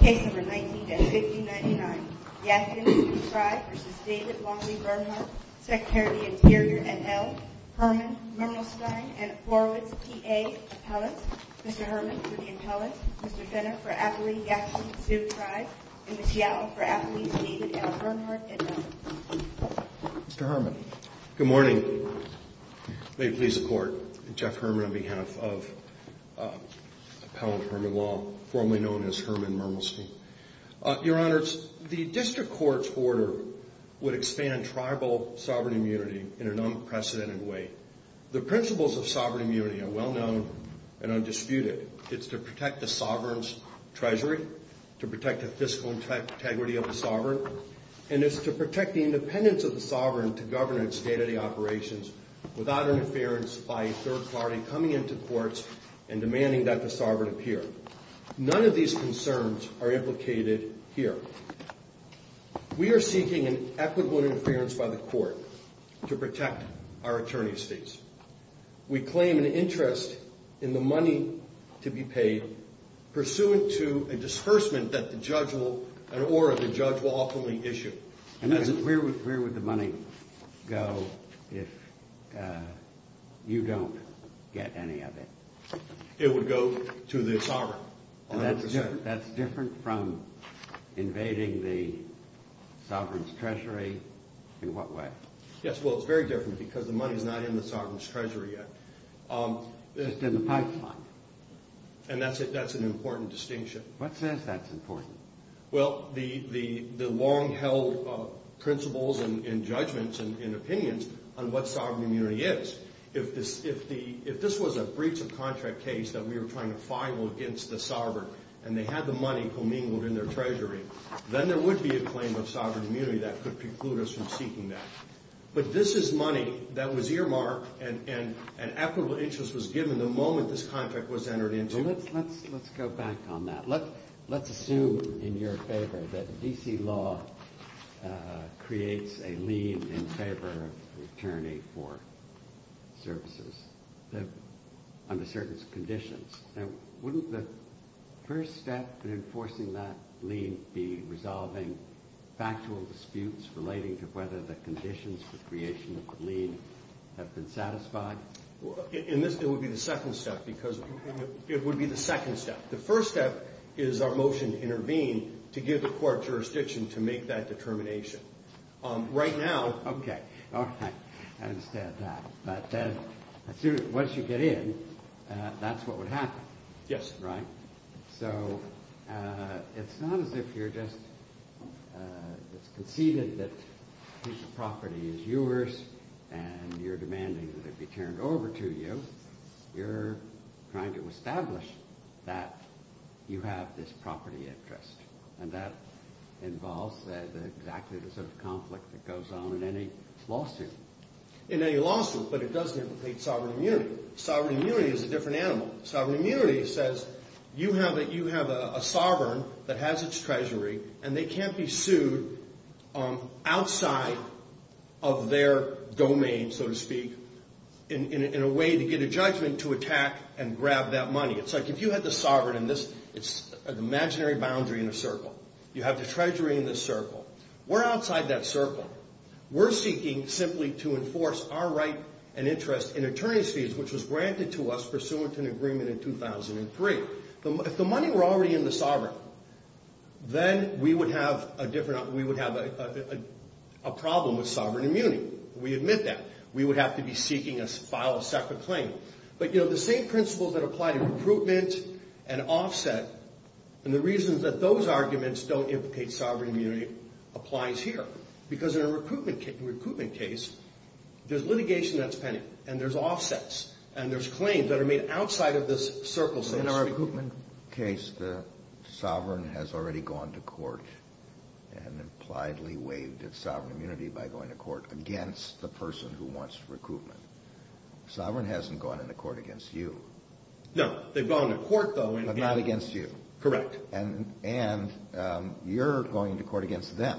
Case number 19-5099 Yankton Sioux Tribe v. David Longley Bernhardt Secretary of the Interior, et al., Herman Mermelstein and Forewoods, PA Appellants, Mr. Herman for the appellants, Mr. Fenner for Appalee-Yankton Sioux Tribe and Ms. Yowell for Appalee-David L. Bernhardt, et al. Mr. Herman Good morning. May it please the Court, Jeff Herman on behalf of Appellant Herman Long, formerly known as Herman Mermelstein. Your Honors, the District Court's order would expand tribal sovereign immunity in an unprecedented way. The principles of sovereign immunity are well known and undisputed. It's to protect the sovereign's treasury, to protect the fiscal integrity of the sovereign, and it's to protect the independence of the sovereign to govern its day-to-day operations without interference by a third party coming into courts and demanding that the sovereign appear. None of these concerns are implicated here. We are seeking an equitable interference by the Court to protect our attorney states. We claim an interest in the money to be paid pursuant to a disbursement an order the judge will oftenly issue. Where would the money go if you don't get any of it? It would go to the sovereign. That's different from invading the sovereign's treasury? In what way? Yes, well, it's very different because the money's not in the sovereign's treasury yet. It's just in the pipeline. And that's an important distinction. What says that's important? Well, the long-held principles and judgments and opinions on what sovereign immunity is. If this was a breach of contract case that we were trying to file against the sovereign and they had the money commingled in their treasury, then there would be a claim of sovereign immunity that could preclude us from seeking that. But this is money that was earmarked and equitable interest was given the moment this contract was entered into it. Let's go back on that. Let's assume in your favor that D.C. law creates a lien in favor of an attorney for services under certain conditions. Now, wouldn't the first step in enforcing that lien be resolving factual disputes relating to whether the conditions for creation of the lien have been satisfied? In this, it would be the second step because it would be the second step. The first step is our motion to intervene to give the court jurisdiction to make that determination. Right now... Okay. All right. I understand that. But once you get in, that's what would happen. Yes. Right? So it's not as if you're just... It's conceded that this property is yours and you're demanding that it be turned over to you. You're trying to establish that you have this property interest and that involves exactly the sort of conflict that goes on in any lawsuit. In any lawsuit, but it doesn't implicate sovereign immunity. Sovereign immunity is a different animal. Sovereign immunity says you have a sovereign that has its treasury and they can't be sued outside of their domain, so to speak, in a way to get a judgment to attack and grab that money. It's like if you had the sovereign in this, it's an imaginary boundary in a circle. You have the treasury in this circle. We're outside that circle. which was granted to us pursuant to an agreement in 2003. If the money were already in the sovereign, then we would have a problem with sovereign immunity. We admit that. We would have to be seeking to file a separate claim. But the same principles that apply to recruitment and offset and the reasons that those arguments don't implicate sovereign immunity applies here because in a recruitment case, there's litigation that's pending and there's offsets and there's claims that are made outside of this circle. In our recruitment case, the sovereign has already gone to court and impliedly waived its sovereign immunity by going to court against the person who wants recruitment. Sovereign hasn't gone into court against you. No. They've gone to court, though. But not against you. Correct. And you're going to court against them.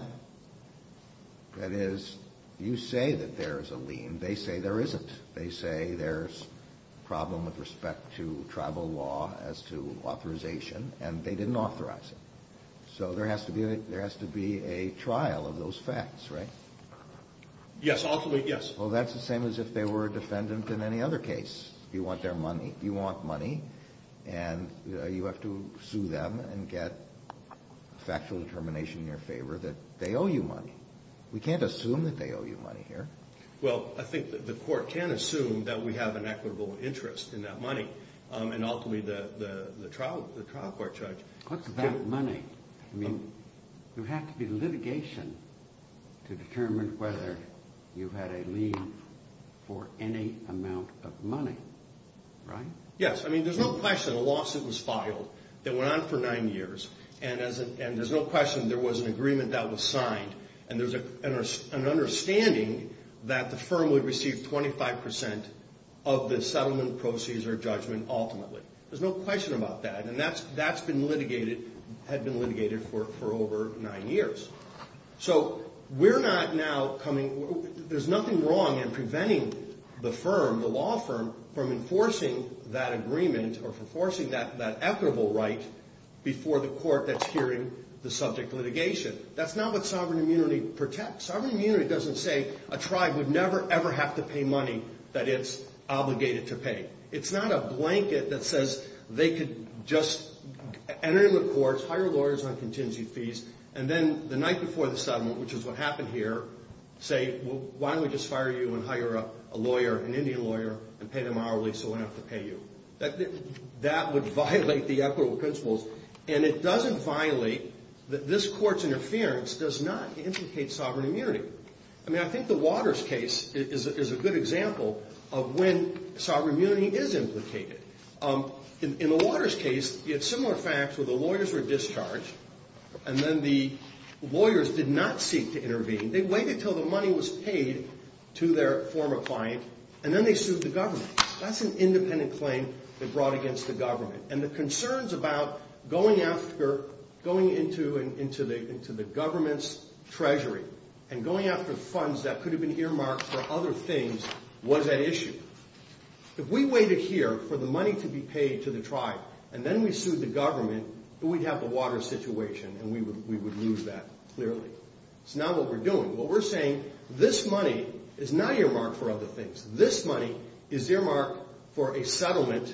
That is, you say that there is a lien. They say there isn't. They say there's a problem with respect to tribal law as to authorization, and they didn't authorize it. So there has to be a trial of those facts, right? Yes, ultimately, yes. Well, that's the same as if they were a defendant in any other case. You want their money. And you have to sue them and get a factual determination in your favor that they owe you money. We can't assume that they owe you money here. Well, I think the court can assume that we have an equitable interest in that money, and ultimately the trial court judge. What's that money? I mean, there would have to be litigation to determine whether you had a lien for any amount of money, right? Yes. I mean, there's no question a lawsuit was filed that went on for nine years, and there's no question there was an agreement that was signed, and there's an understanding that the firm would receive 25 percent of the settlement proceeds or judgment ultimately. There's no question about that, and that's been litigated, had been litigated for over nine years. So we're not now coming – there's nothing wrong in preventing the firm, the law firm, from enforcing that agreement or enforcing that equitable right before the court that's hearing the subject litigation. That's not what sovereign immunity protects. Sovereign immunity doesn't say a tribe would never, ever have to pay money that it's obligated to pay. It's not a blanket that says they could just enter into the courts, hire lawyers on contingency fees, and then the night before the settlement, which is what happened here, say, why don't we just fire you and hire a lawyer, an Indian lawyer, and pay them hourly so we don't have to pay you. That would violate the equitable principles, and it doesn't violate – this court's interference does not implicate sovereign immunity. I mean, I think the Waters case is a good example of when sovereign immunity is implicated. In the Waters case, you had similar facts where the lawyers were discharged, and then the lawyers did not seek to intervene. They waited until the money was paid to their former client, and then they sued the government. That's an independent claim they brought against the government, and the concerns about going after – going into the government's treasury and going after funds that could have been earmarked for other things was at issue. If we waited here for the money to be paid to the tribe, and then we sued the government, we'd have the Waters situation, and we would lose that clearly. It's not what we're doing. What we're saying, this money is not earmarked for other things. This money is earmarked for a settlement.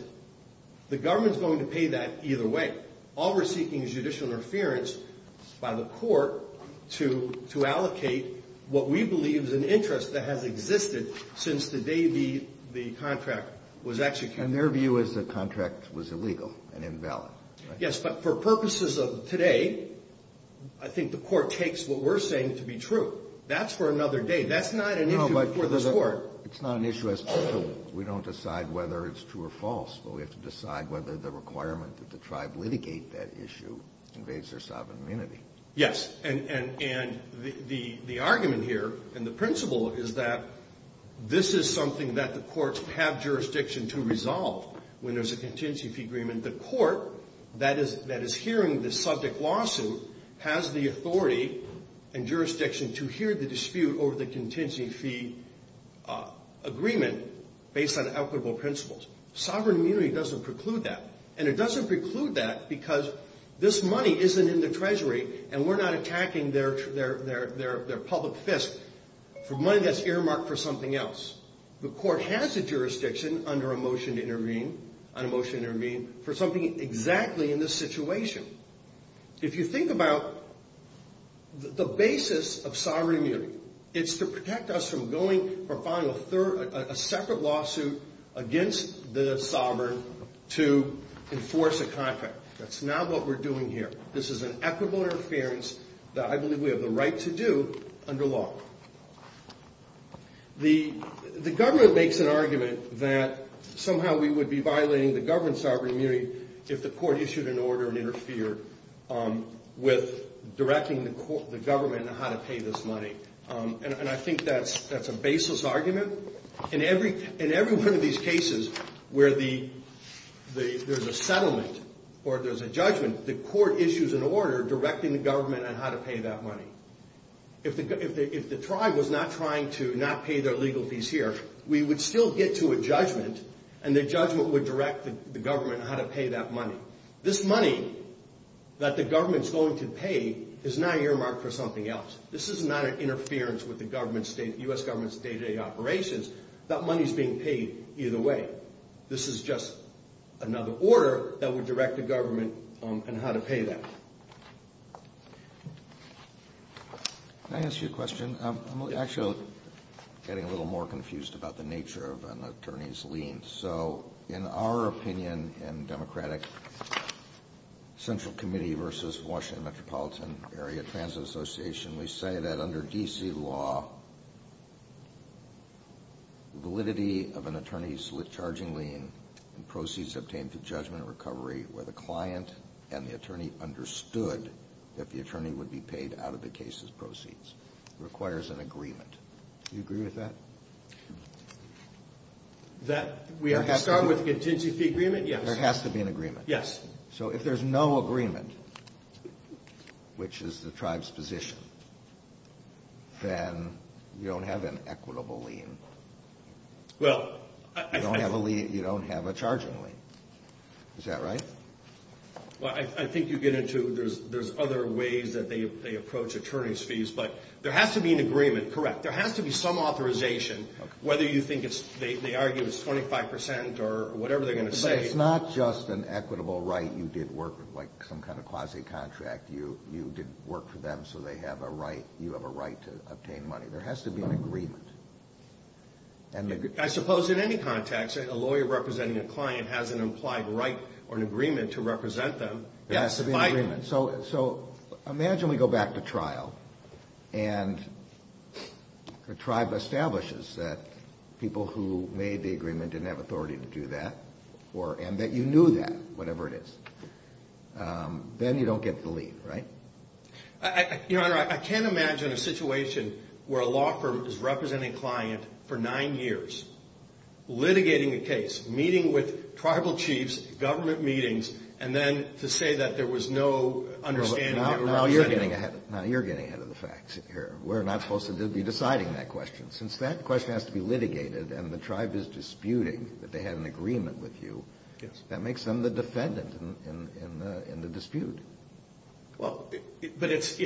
The government's going to pay that either way. All we're seeking is judicial interference by the court to allocate what we believe is an interest that has existed since the day the contract was executed. And their view is the contract was illegal and invalid, right? Yes, but for purposes of today, I think the court takes what we're saying to be true. That's for another day. That's not an issue before this Court. No, but it's not an issue as to whether we don't decide whether it's true or false, but we have to decide whether the requirement that the tribe litigate that issue invades their sovereign immunity. Yes. And the argument here and the principle is that this is something that the courts have jurisdiction to resolve when there's a contingency fee agreement. The court that is hearing the subject lawsuit has the authority and jurisdiction to hear the dispute over the contingency fee agreement based on equitable principles. Sovereign immunity doesn't preclude that, and it doesn't preclude that because this money isn't in the treasury and we're not attacking their public fist for money that's earmarked for something else. The court has the jurisdiction under a motion to intervene for something exactly in this situation. If you think about the basis of sovereign immunity, it's to protect us from going or filing a separate lawsuit against the sovereign to enforce a contract. That's not what we're doing here. This is an equitable interference that I believe we have the right to do under law. The government makes an argument that somehow we would be violating the government's sovereign immunity if the court issued an order and interfered with directing the government on how to pay this money. And I think that's a baseless argument. In every one of these cases where there's a settlement or there's a judgment, the court issues an order directing the government on how to pay that money. If the tribe was not trying to not pay their legal fees here, we would still get to a judgment, and the judgment would direct the government on how to pay that money. This money that the government is going to pay is now earmarked for something else. This is not an interference with the U.S. government's day-to-day operations. That money is being paid either way. This is just another order that would direct the government on how to pay that. Can I ask you a question? I'm actually getting a little more confused about the nature of an attorney's lien. So in our opinion in Democratic Central Committee versus Washington Metropolitan Area Transit Association, we say that under D.C. law, validity of an attorney's charging lien and proceeds obtained through judgment or recovery where the client and the attorney understood that the attorney would be paid out of the case's proceeds requires an agreement. Do you agree with that? That we have to start with contingency fee agreement? Yes. There has to be an agreement. Yes. So if there's no agreement, which is the tribe's position, then you don't have an equitable lien. You don't have a charging lien. Is that right? Well, I think you get into there's other ways that they approach attorney's fees, but there has to be an agreement. Correct. There has to be some authorization, whether you think they argue it's 25 percent or whatever they're going to say. But it's not just an equitable right you did work with, like some kind of quasi-contract. You did work for them, so you have a right to obtain money. There has to be an agreement. I suppose in any context, a lawyer representing a client has an implied right or an agreement to represent them. There has to be an agreement. So imagine we go back to trial and the tribe establishes that people who made the agreement didn't have authority to do that and that you knew that, whatever it is. Then you don't get the lien, right? Your Honor, I can't imagine a situation where a law firm is representing a client for nine years, litigating a case, meeting with tribal chiefs, government meetings, and then to say that there was no understanding. Now you're getting ahead of the facts here. We're not supposed to be deciding that question. Since that question has to be litigated and the tribe is disputing that they had an agreement with you, that makes them the defendant in the dispute. Well, but it's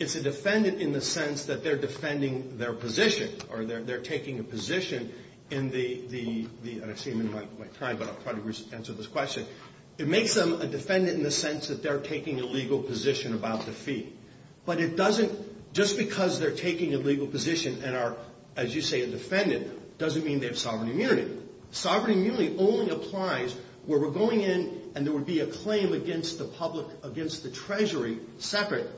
a defendant in the sense that they're defending their position or they're taking a position in the, I don't see him in my time, but I'll probably answer this question. It makes them a defendant in the sense that they're taking a legal position about the fee. But it doesn't, just because they're taking a legal position and are, as you say, a defendant, doesn't mean they have sovereign immunity. Sovereign immunity only applies where we're going in and there would be a claim against the public, against the treasury separate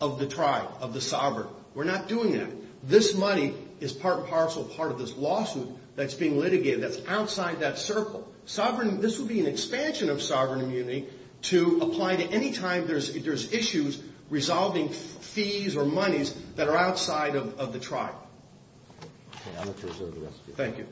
of the tribe, of the sovereign. We're not doing that. This money is part and parcel, part of this lawsuit that's being litigated that's outside that circle. Sovereign, this would be an expansion of sovereign immunity to apply to any time there's issues resolving fees or monies that are outside of the tribe. Okay, I'll let you reserve the rest of your time. Thank you. Thank you.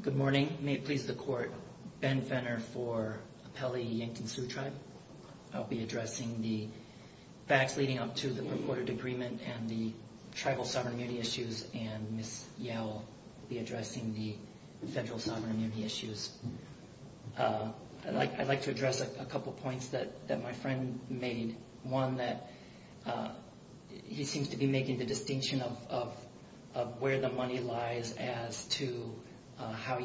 Good morning. May it please the court. Ben Fenner for Appellee Yankton Sioux Tribe. I'll be addressing the facts leading up to the purported agreement and the tribal sovereign immunity issues and Ms. Yowell will be addressing the federal sovereign immunity issues. I'd like to address a couple points that my friend made. One, that he seems to be making the distinction of where the money lies as to how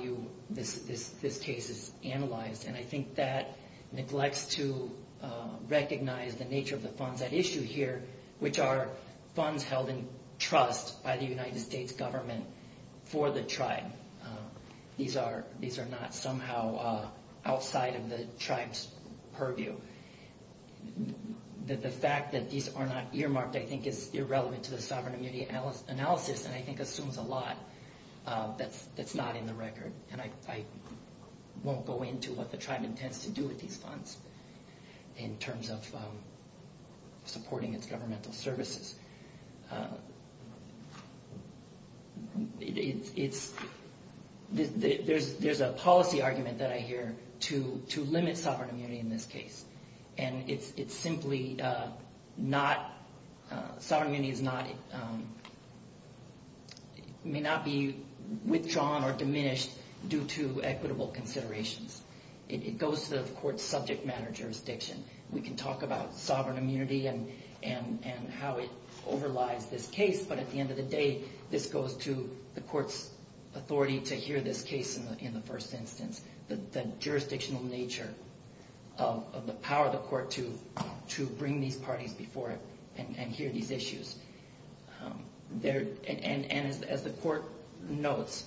this case is analyzed. And I think that neglects to recognize the nature of the funds at issue here, which are funds held in trust by the United States government for the tribe. These are not somehow outside of the tribe's purview. The fact that these are not earmarked, I think, is irrelevant to the sovereign immunity analysis and I think assumes a lot that's not in the record. And I won't go into what the tribe intends to do with these funds in terms of supporting its governmental services. There's a policy argument that I hear to limit sovereign immunity in this case. And it simply may not be withdrawn or diminished due to equitable considerations. It goes to the court's subject matter jurisdiction. We can talk about sovereign immunity and how it overlies this case, but at the end of the day, this goes to the court's authority to hear this case in the first instance. It's the jurisdictional nature of the power of the court to bring these parties before it and hear these issues. And as the court notes,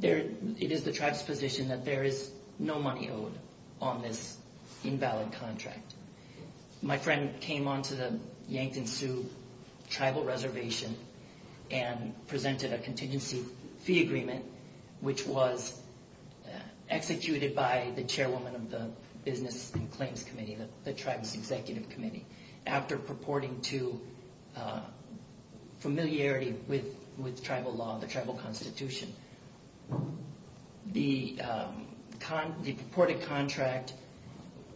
it is the tribe's position that there is no money owed on this invalid contract. My friend came onto the Yankton Sioux tribal reservation and presented a contingency fee agreement, which was executed by the chairwoman of the Business and Claims Committee, the tribe's executive committee, after purporting to familiarity with tribal law, the tribal constitution. The purported contract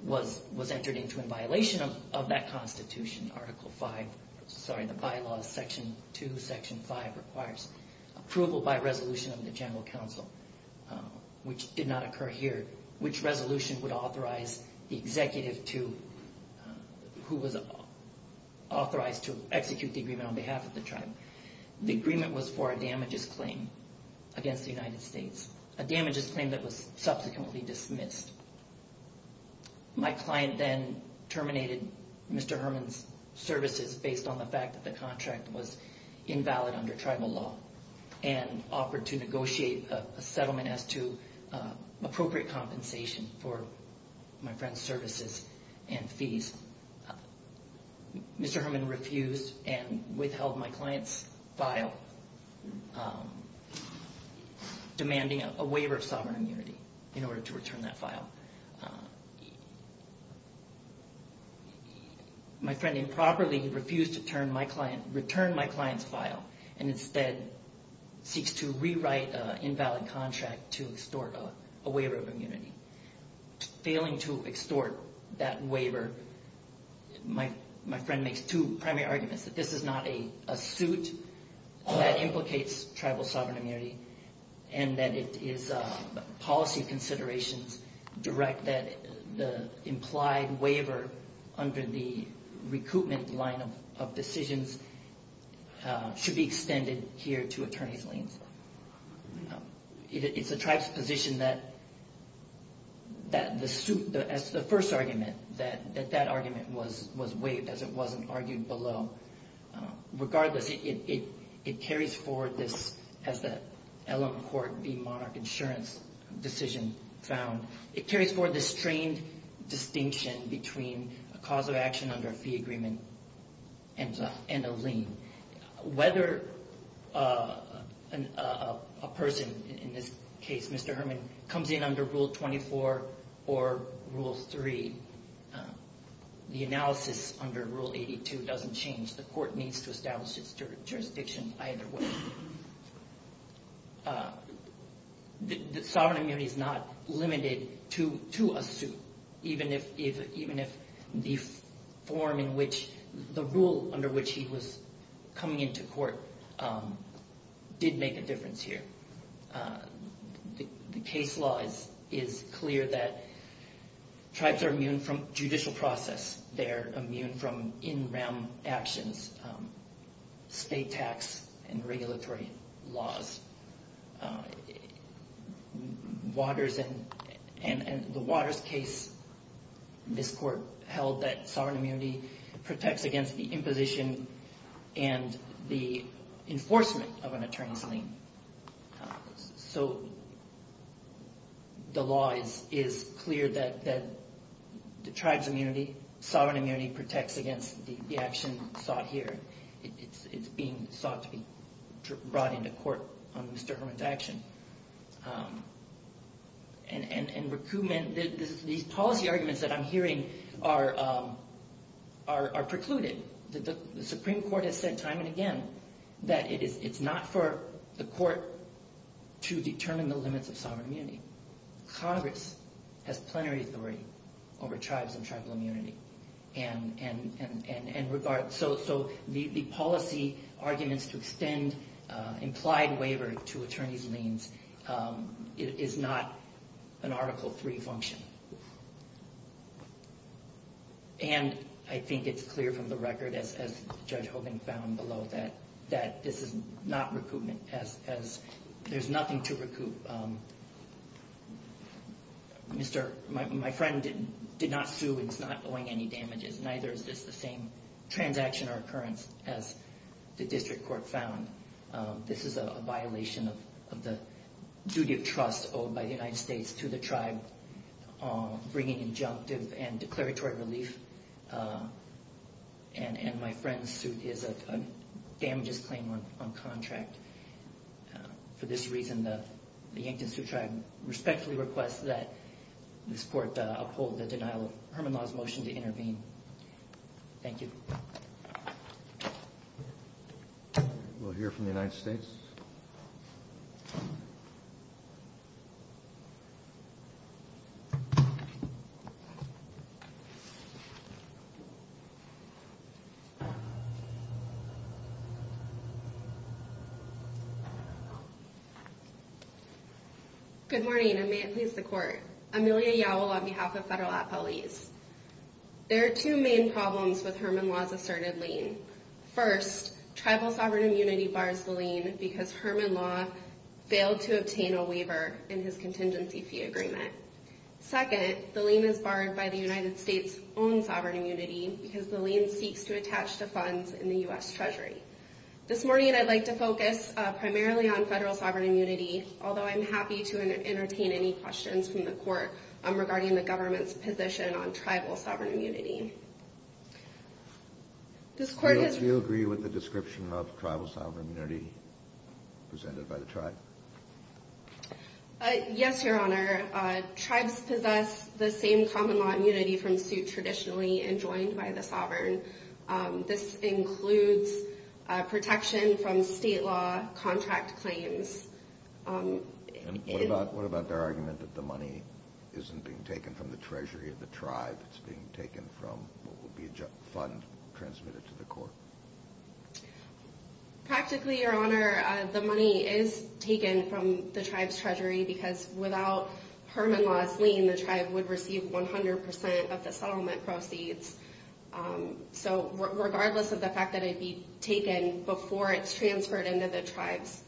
was entered into in violation of that constitution, Article 5. Sorry, the bylaws, Section 2, Section 5 requires approval by resolution of the general council, which did not occur here. Which resolution would authorize the executive who was authorized to execute the agreement on behalf of the tribe? The agreement was for a damages claim against the United States, a damages claim that was subsequently dismissed. My client then terminated Mr. Herman's services based on the fact that the contract was invalid under tribal law and offered to negotiate a settlement as to appropriate compensation for my friend's services and fees. Mr. Herman refused and withheld my client's file, demanding a waiver of sovereign immunity in order to return that file. My friend improperly refused to return my client's file and instead seeks to rewrite an invalid contract to extort a waiver of immunity. Failing to extort that waiver, my friend makes two primary arguments, that this is not a suit that implicates tribal sovereign immunity and that it is policy considerations direct that the implied waiver under the recoupment line of decisions should be extended here to attorney's liens. It's the tribe's position that the first argument, that that argument was waived as it wasn't argued below. Regardless, it carries forward this, as the Ellum Court v. Monarch Insurance decision found, it carries forward this strained distinction between a cause of action under a fee agreement and a lien. Whether a person, in this case Mr. Herman, comes in under Rule 24 or Rule 3, the analysis under Rule 82 doesn't change. The court needs to establish its jurisdiction either way. Sovereign immunity is not limited to a suit, even if the form in which, the rule under which he was coming into court did make a difference here. The case law is clear that tribes are immune from judicial process. They're immune from in-rem actions, state tax and regulatory laws. Waters, in the Waters case, this court held that sovereign immunity protects against the imposition and the enforcement of an attorney's lien. So the law is clear that the tribe's immunity, sovereign immunity, protects against the action sought here. It's being sought to be brought into court on Mr. Herman's action. And recoupment, these policy arguments that I'm hearing are precluded. The Supreme Court has said time and again that it's not for the court to determine the limits of sovereign immunity. Congress has plenary authority over tribes and tribal immunity. So the policy arguments to extend implied waiver to attorney's liens is not an Article 3 function. And I think it's clear from the record, as Judge Hogan found below, that this is not recoupment, as there's nothing to recoup. My friend did not sue and is not owing any damages. Neither is this the same transaction or occurrence as the district court found. This is a violation of the duty of trust owed by the United States to the tribe, bringing injunctive and declaratory relief. And my friend's suit is a damages claim on contract. For this reason, the Yankton Sioux Tribe respectfully requests that this court uphold the denial of Herman Law's motion to intervene. Thank you. We'll hear from the United States. Good morning, and may it please the Court. Amelia Yowell on behalf of Federal Appellees. There are two main problems with Herman Law's asserted lien. First, tribal sovereign immunity bars the lien because Herman Law failed to obtain a waiver in his contingency fee agreement. Second, the lien is barred by the United States' own sovereign immunity because the lien seeks to attach to funds in the U.S. Treasury. This morning, I'd like to focus primarily on federal sovereign immunity, although I'm happy to entertain any questions from the Court regarding the government's position on tribal sovereign immunity. Does the Court agree with the description of tribal sovereign immunity presented by the tribe? Yes, Your Honor. Tribes possess the same common law immunity from suit traditionally enjoined by the sovereign. This includes protection from state law contract claims. What about their argument that the money isn't being taken from the treasury of the tribe? That it's being taken from what would be a fund transmitted to the court? Practically, Your Honor, the money is taken from the tribe's treasury because without Herman Law's lien, the tribe would receive 100% of the settlement proceeds. So regardless of the fact that it'd be taken before it's transferred into the tribe's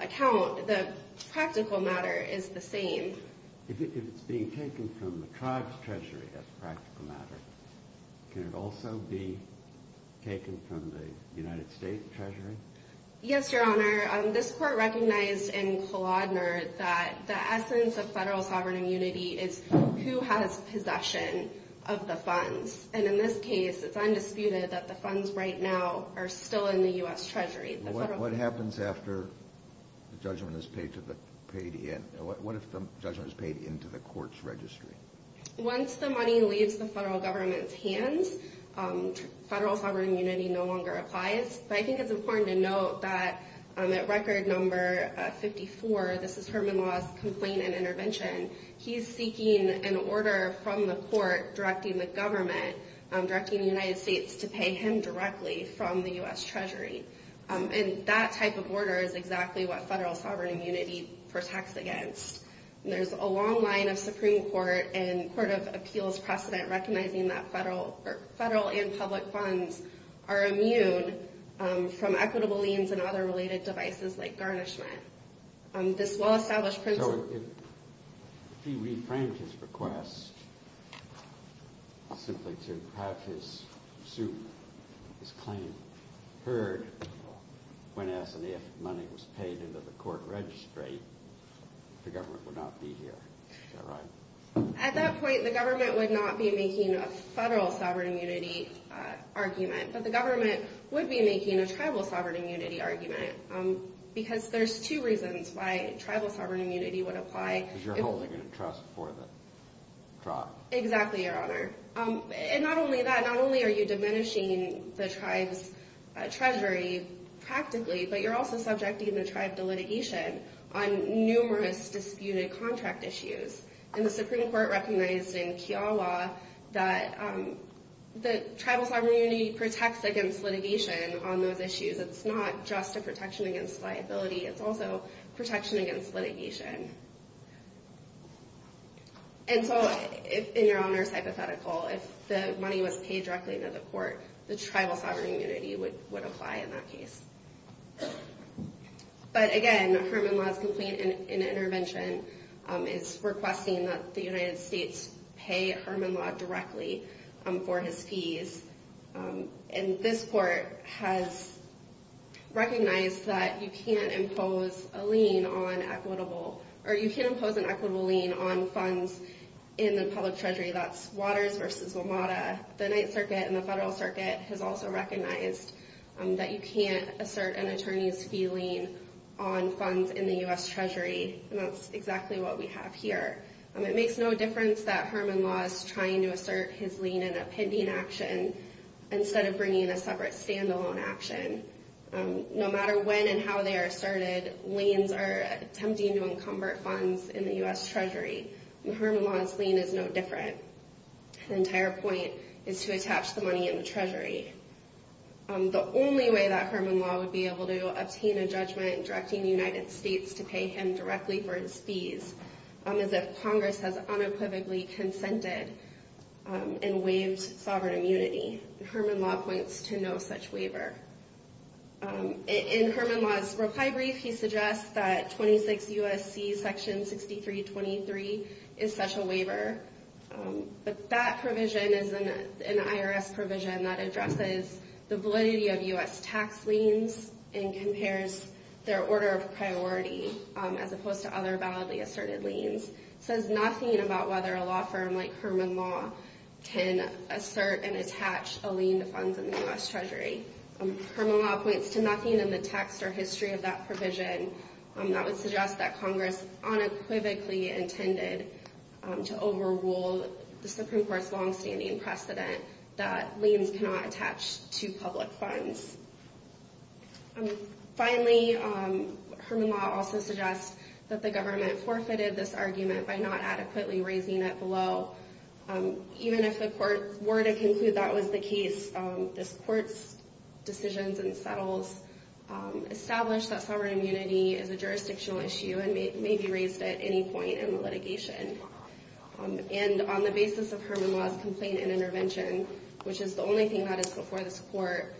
account, the practical matter is the same. If it's being taken from the tribe's treasury as a practical matter, can it also be taken from the United States' treasury? Yes, Your Honor. This Court recognized in Kalodner that the essence of federal sovereign immunity is who has possession of the funds. And in this case, it's undisputed that the funds right now are still in the U.S. Treasury. What happens after the judgment is paid into the court's registry? Once the money leaves the federal government's hands, federal sovereign immunity no longer applies. But I think it's important to note that at record number 54, this is Herman Law's complaint and intervention, he's seeking an order from the court directing the government, directing the United States, to pay him directly from the U.S. Treasury. And that type of order is exactly what federal sovereign immunity protects against. There's a long line of Supreme Court and Court of Appeals precedent recognizing that federal and public funds are immune from equitable liens and other related devices like garnishment. This well-established principle... If he reframed his request simply to have his claim heard when asked if money was paid into the court registry, the government would not be here. At that point, the government would not be making a federal sovereign immunity argument, but the government would be making a tribal sovereign immunity argument. Because there's two reasons why tribal sovereign immunity would apply. Because you're holding a trust for the tribe. Exactly, Your Honor. And not only that, not only are you diminishing the tribe's treasury practically, but you're also subjecting the tribe to litigation on numerous disputed contract issues. And the Supreme Court recognized in Kiowa that the tribal sovereign immunity protects against litigation on those issues. It's not just a protection against liability, it's also protection against litigation. And so, in Your Honor's hypothetical, if the money was paid directly into the court, the tribal sovereign immunity would apply in that case. But again, Herman Law's complaint and intervention is requesting that the United States pay Herman Law directly for his fees. And this court has recognized that you can't impose a lien on equitable... Or you can impose an equitable lien on funds in the public treasury. That's Waters v. WMATA. The Ninth Circuit and the Federal Circuit has also recognized that you can't assert an attorney's fee lien on funds in the U.S. Treasury. And that's exactly what we have here. It makes no difference that Herman Law is trying to assert his lien in a pending action instead of bringing a separate standalone action. No matter when and how they are asserted, liens are attempting to encumber funds in the U.S. Treasury. And Herman Law's lien is no different. The entire point is to attach the money in the treasury. The only way that Herman Law would be able to obtain a judgment directing the United States to pay him directly for his fees is if Congress has unequivocally consented and waived sovereign immunity. Herman Law points to no such waiver. In Herman Law's reply brief, he suggests that 26 U.S.C. Section 6323 is such a waiver. But that provision is an IRS provision that addresses the validity of U.S. tax liens and compares their order of priority as opposed to other validly asserted liens. It says nothing about whether a law firm like Herman Law can assert and attach a lien to funds in the U.S. Treasury. Herman Law points to nothing in the text or history of that provision that would suggest that Congress unequivocally intended to overrule the Supreme Court's longstanding precedent that liens cannot attach to public funds. Finally, Herman Law also suggests that the government forfeited this argument by not adequately raising it below. Even if the court were to conclude that was the case, this court's decisions and settles establish that sovereign immunity is a jurisdictional issue and may be raised at any point in the litigation. And on the basis of Herman Law's complaint and intervention, which is the only thing that is before this court,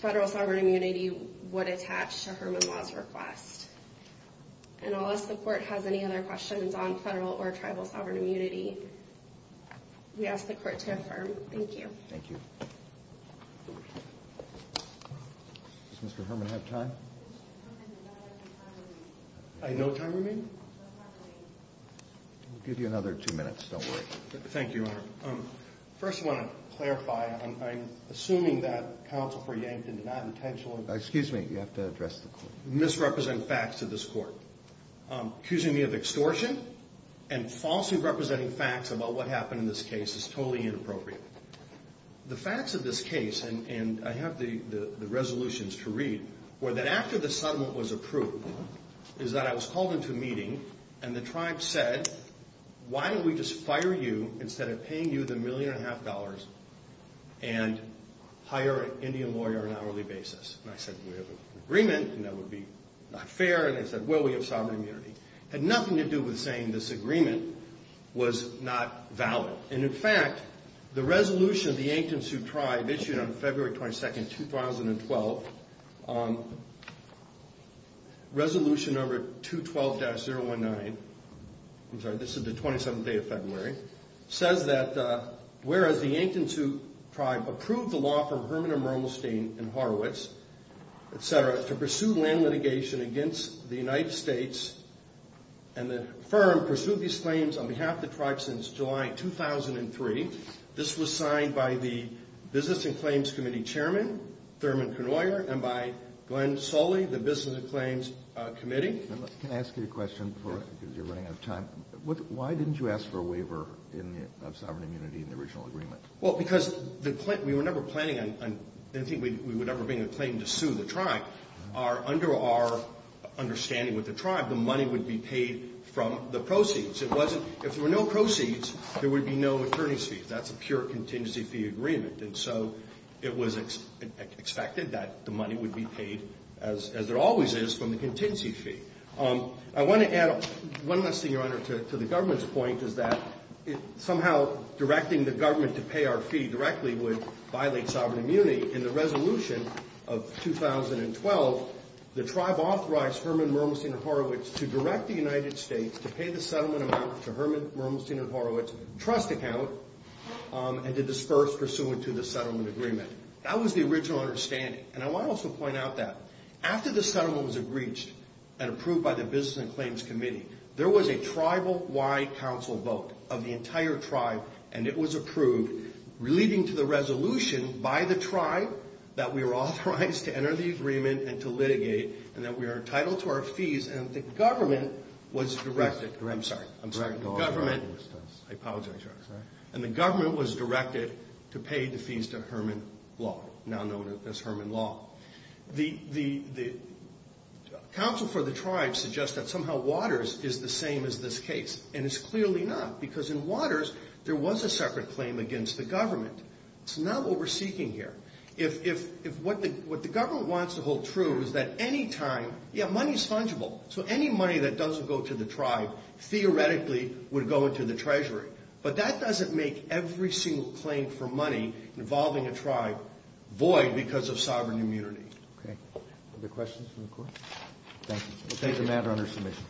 federal sovereign immunity would attach to Herman Law's request. And unless the court has any other questions on federal or tribal sovereign immunity, we ask the court to affirm. Thank you. Does Mr. Herman have time? I have no time remaining. I'll give you another two minutes, don't worry. Thank you, Your Honor. First I want to clarify, I'm assuming that counsel for Yankton did not intentionally Excuse me, you have to address the court. misrepresent facts of this court. Accusing me of extortion and falsely representing facts about what happened in this case is totally inappropriate. The facts of this case, and I have the resolutions to read, were that after the settlement was approved, is that I was called into a meeting and the tribe said, why don't we just fire you instead of paying you the million and a half dollars and hire an Indian lawyer on an hourly basis? And I said, we have an agreement, and that would be not fair. And they said, well, we have sovereign immunity. It had nothing to do with saying this agreement was not valid. And in fact, the resolution of the Yankton Sioux tribe issued on February 22, 2012, resolution number 212-019, I'm sorry, this is the 27th day of February, says that whereas the Yankton Sioux tribe approved the law from Herman and Mermelstein and Horowitz, etc., to pursue land litigation against the United States and the firm pursued these claims on behalf of the tribe since July 2003. This was signed by the Business and Claims Committee chairman, Thurman Knoyer, and by Glenn Soley, the Business and Claims Committee. Can I ask you a question? Because you're running out of time. Why didn't you ask for a waiver of sovereign immunity in the original agreement? Well, because we were never planning on, I didn't think we would ever bring a claim to sue the tribe. Under our understanding with the tribe, the money would be paid from the proceeds. If there were no proceeds, there would be no attorney's fees. That's a pure contingency fee agreement. And so it was expected that the money would be paid, as there always is, from the contingency fee. I want to add one last thing, Your Honor, to the government's point, is that somehow directing the government to pay our fee directly would violate sovereign immunity. In the resolution of 2012, the tribe authorized Herman, Mermelstein, and Horowitz to direct the United States to pay the settlement amount to Herman, Mermelstein, and Horowitz, a trust account, and to disperse pursuant to the settlement agreement. That was the original understanding. And I want to also point out that after the settlement was agreed and approved by the Business and Claims Committee, there was a tribal-wide council vote of the entire tribe, and it was approved, leading to the resolution by the tribe that we were authorized to enter the agreement and to litigate, and that we are entitled to our fees, and that the government was directed... law, now known as Herman law. The council for the tribe suggests that somehow Waters is the same as this case, and it's clearly not, because in Waters, there was a separate claim against the government. It's not what we're seeking here. What the government wants to hold true is that any time... Yeah, money's fungible, so any money that doesn't go to the tribe theoretically would go into the treasury, but that doesn't make every single claim for money involving a tribe void because of sovereign immunity. Okay. Other questions from the Court? Thank you. We'll take a matter under submission.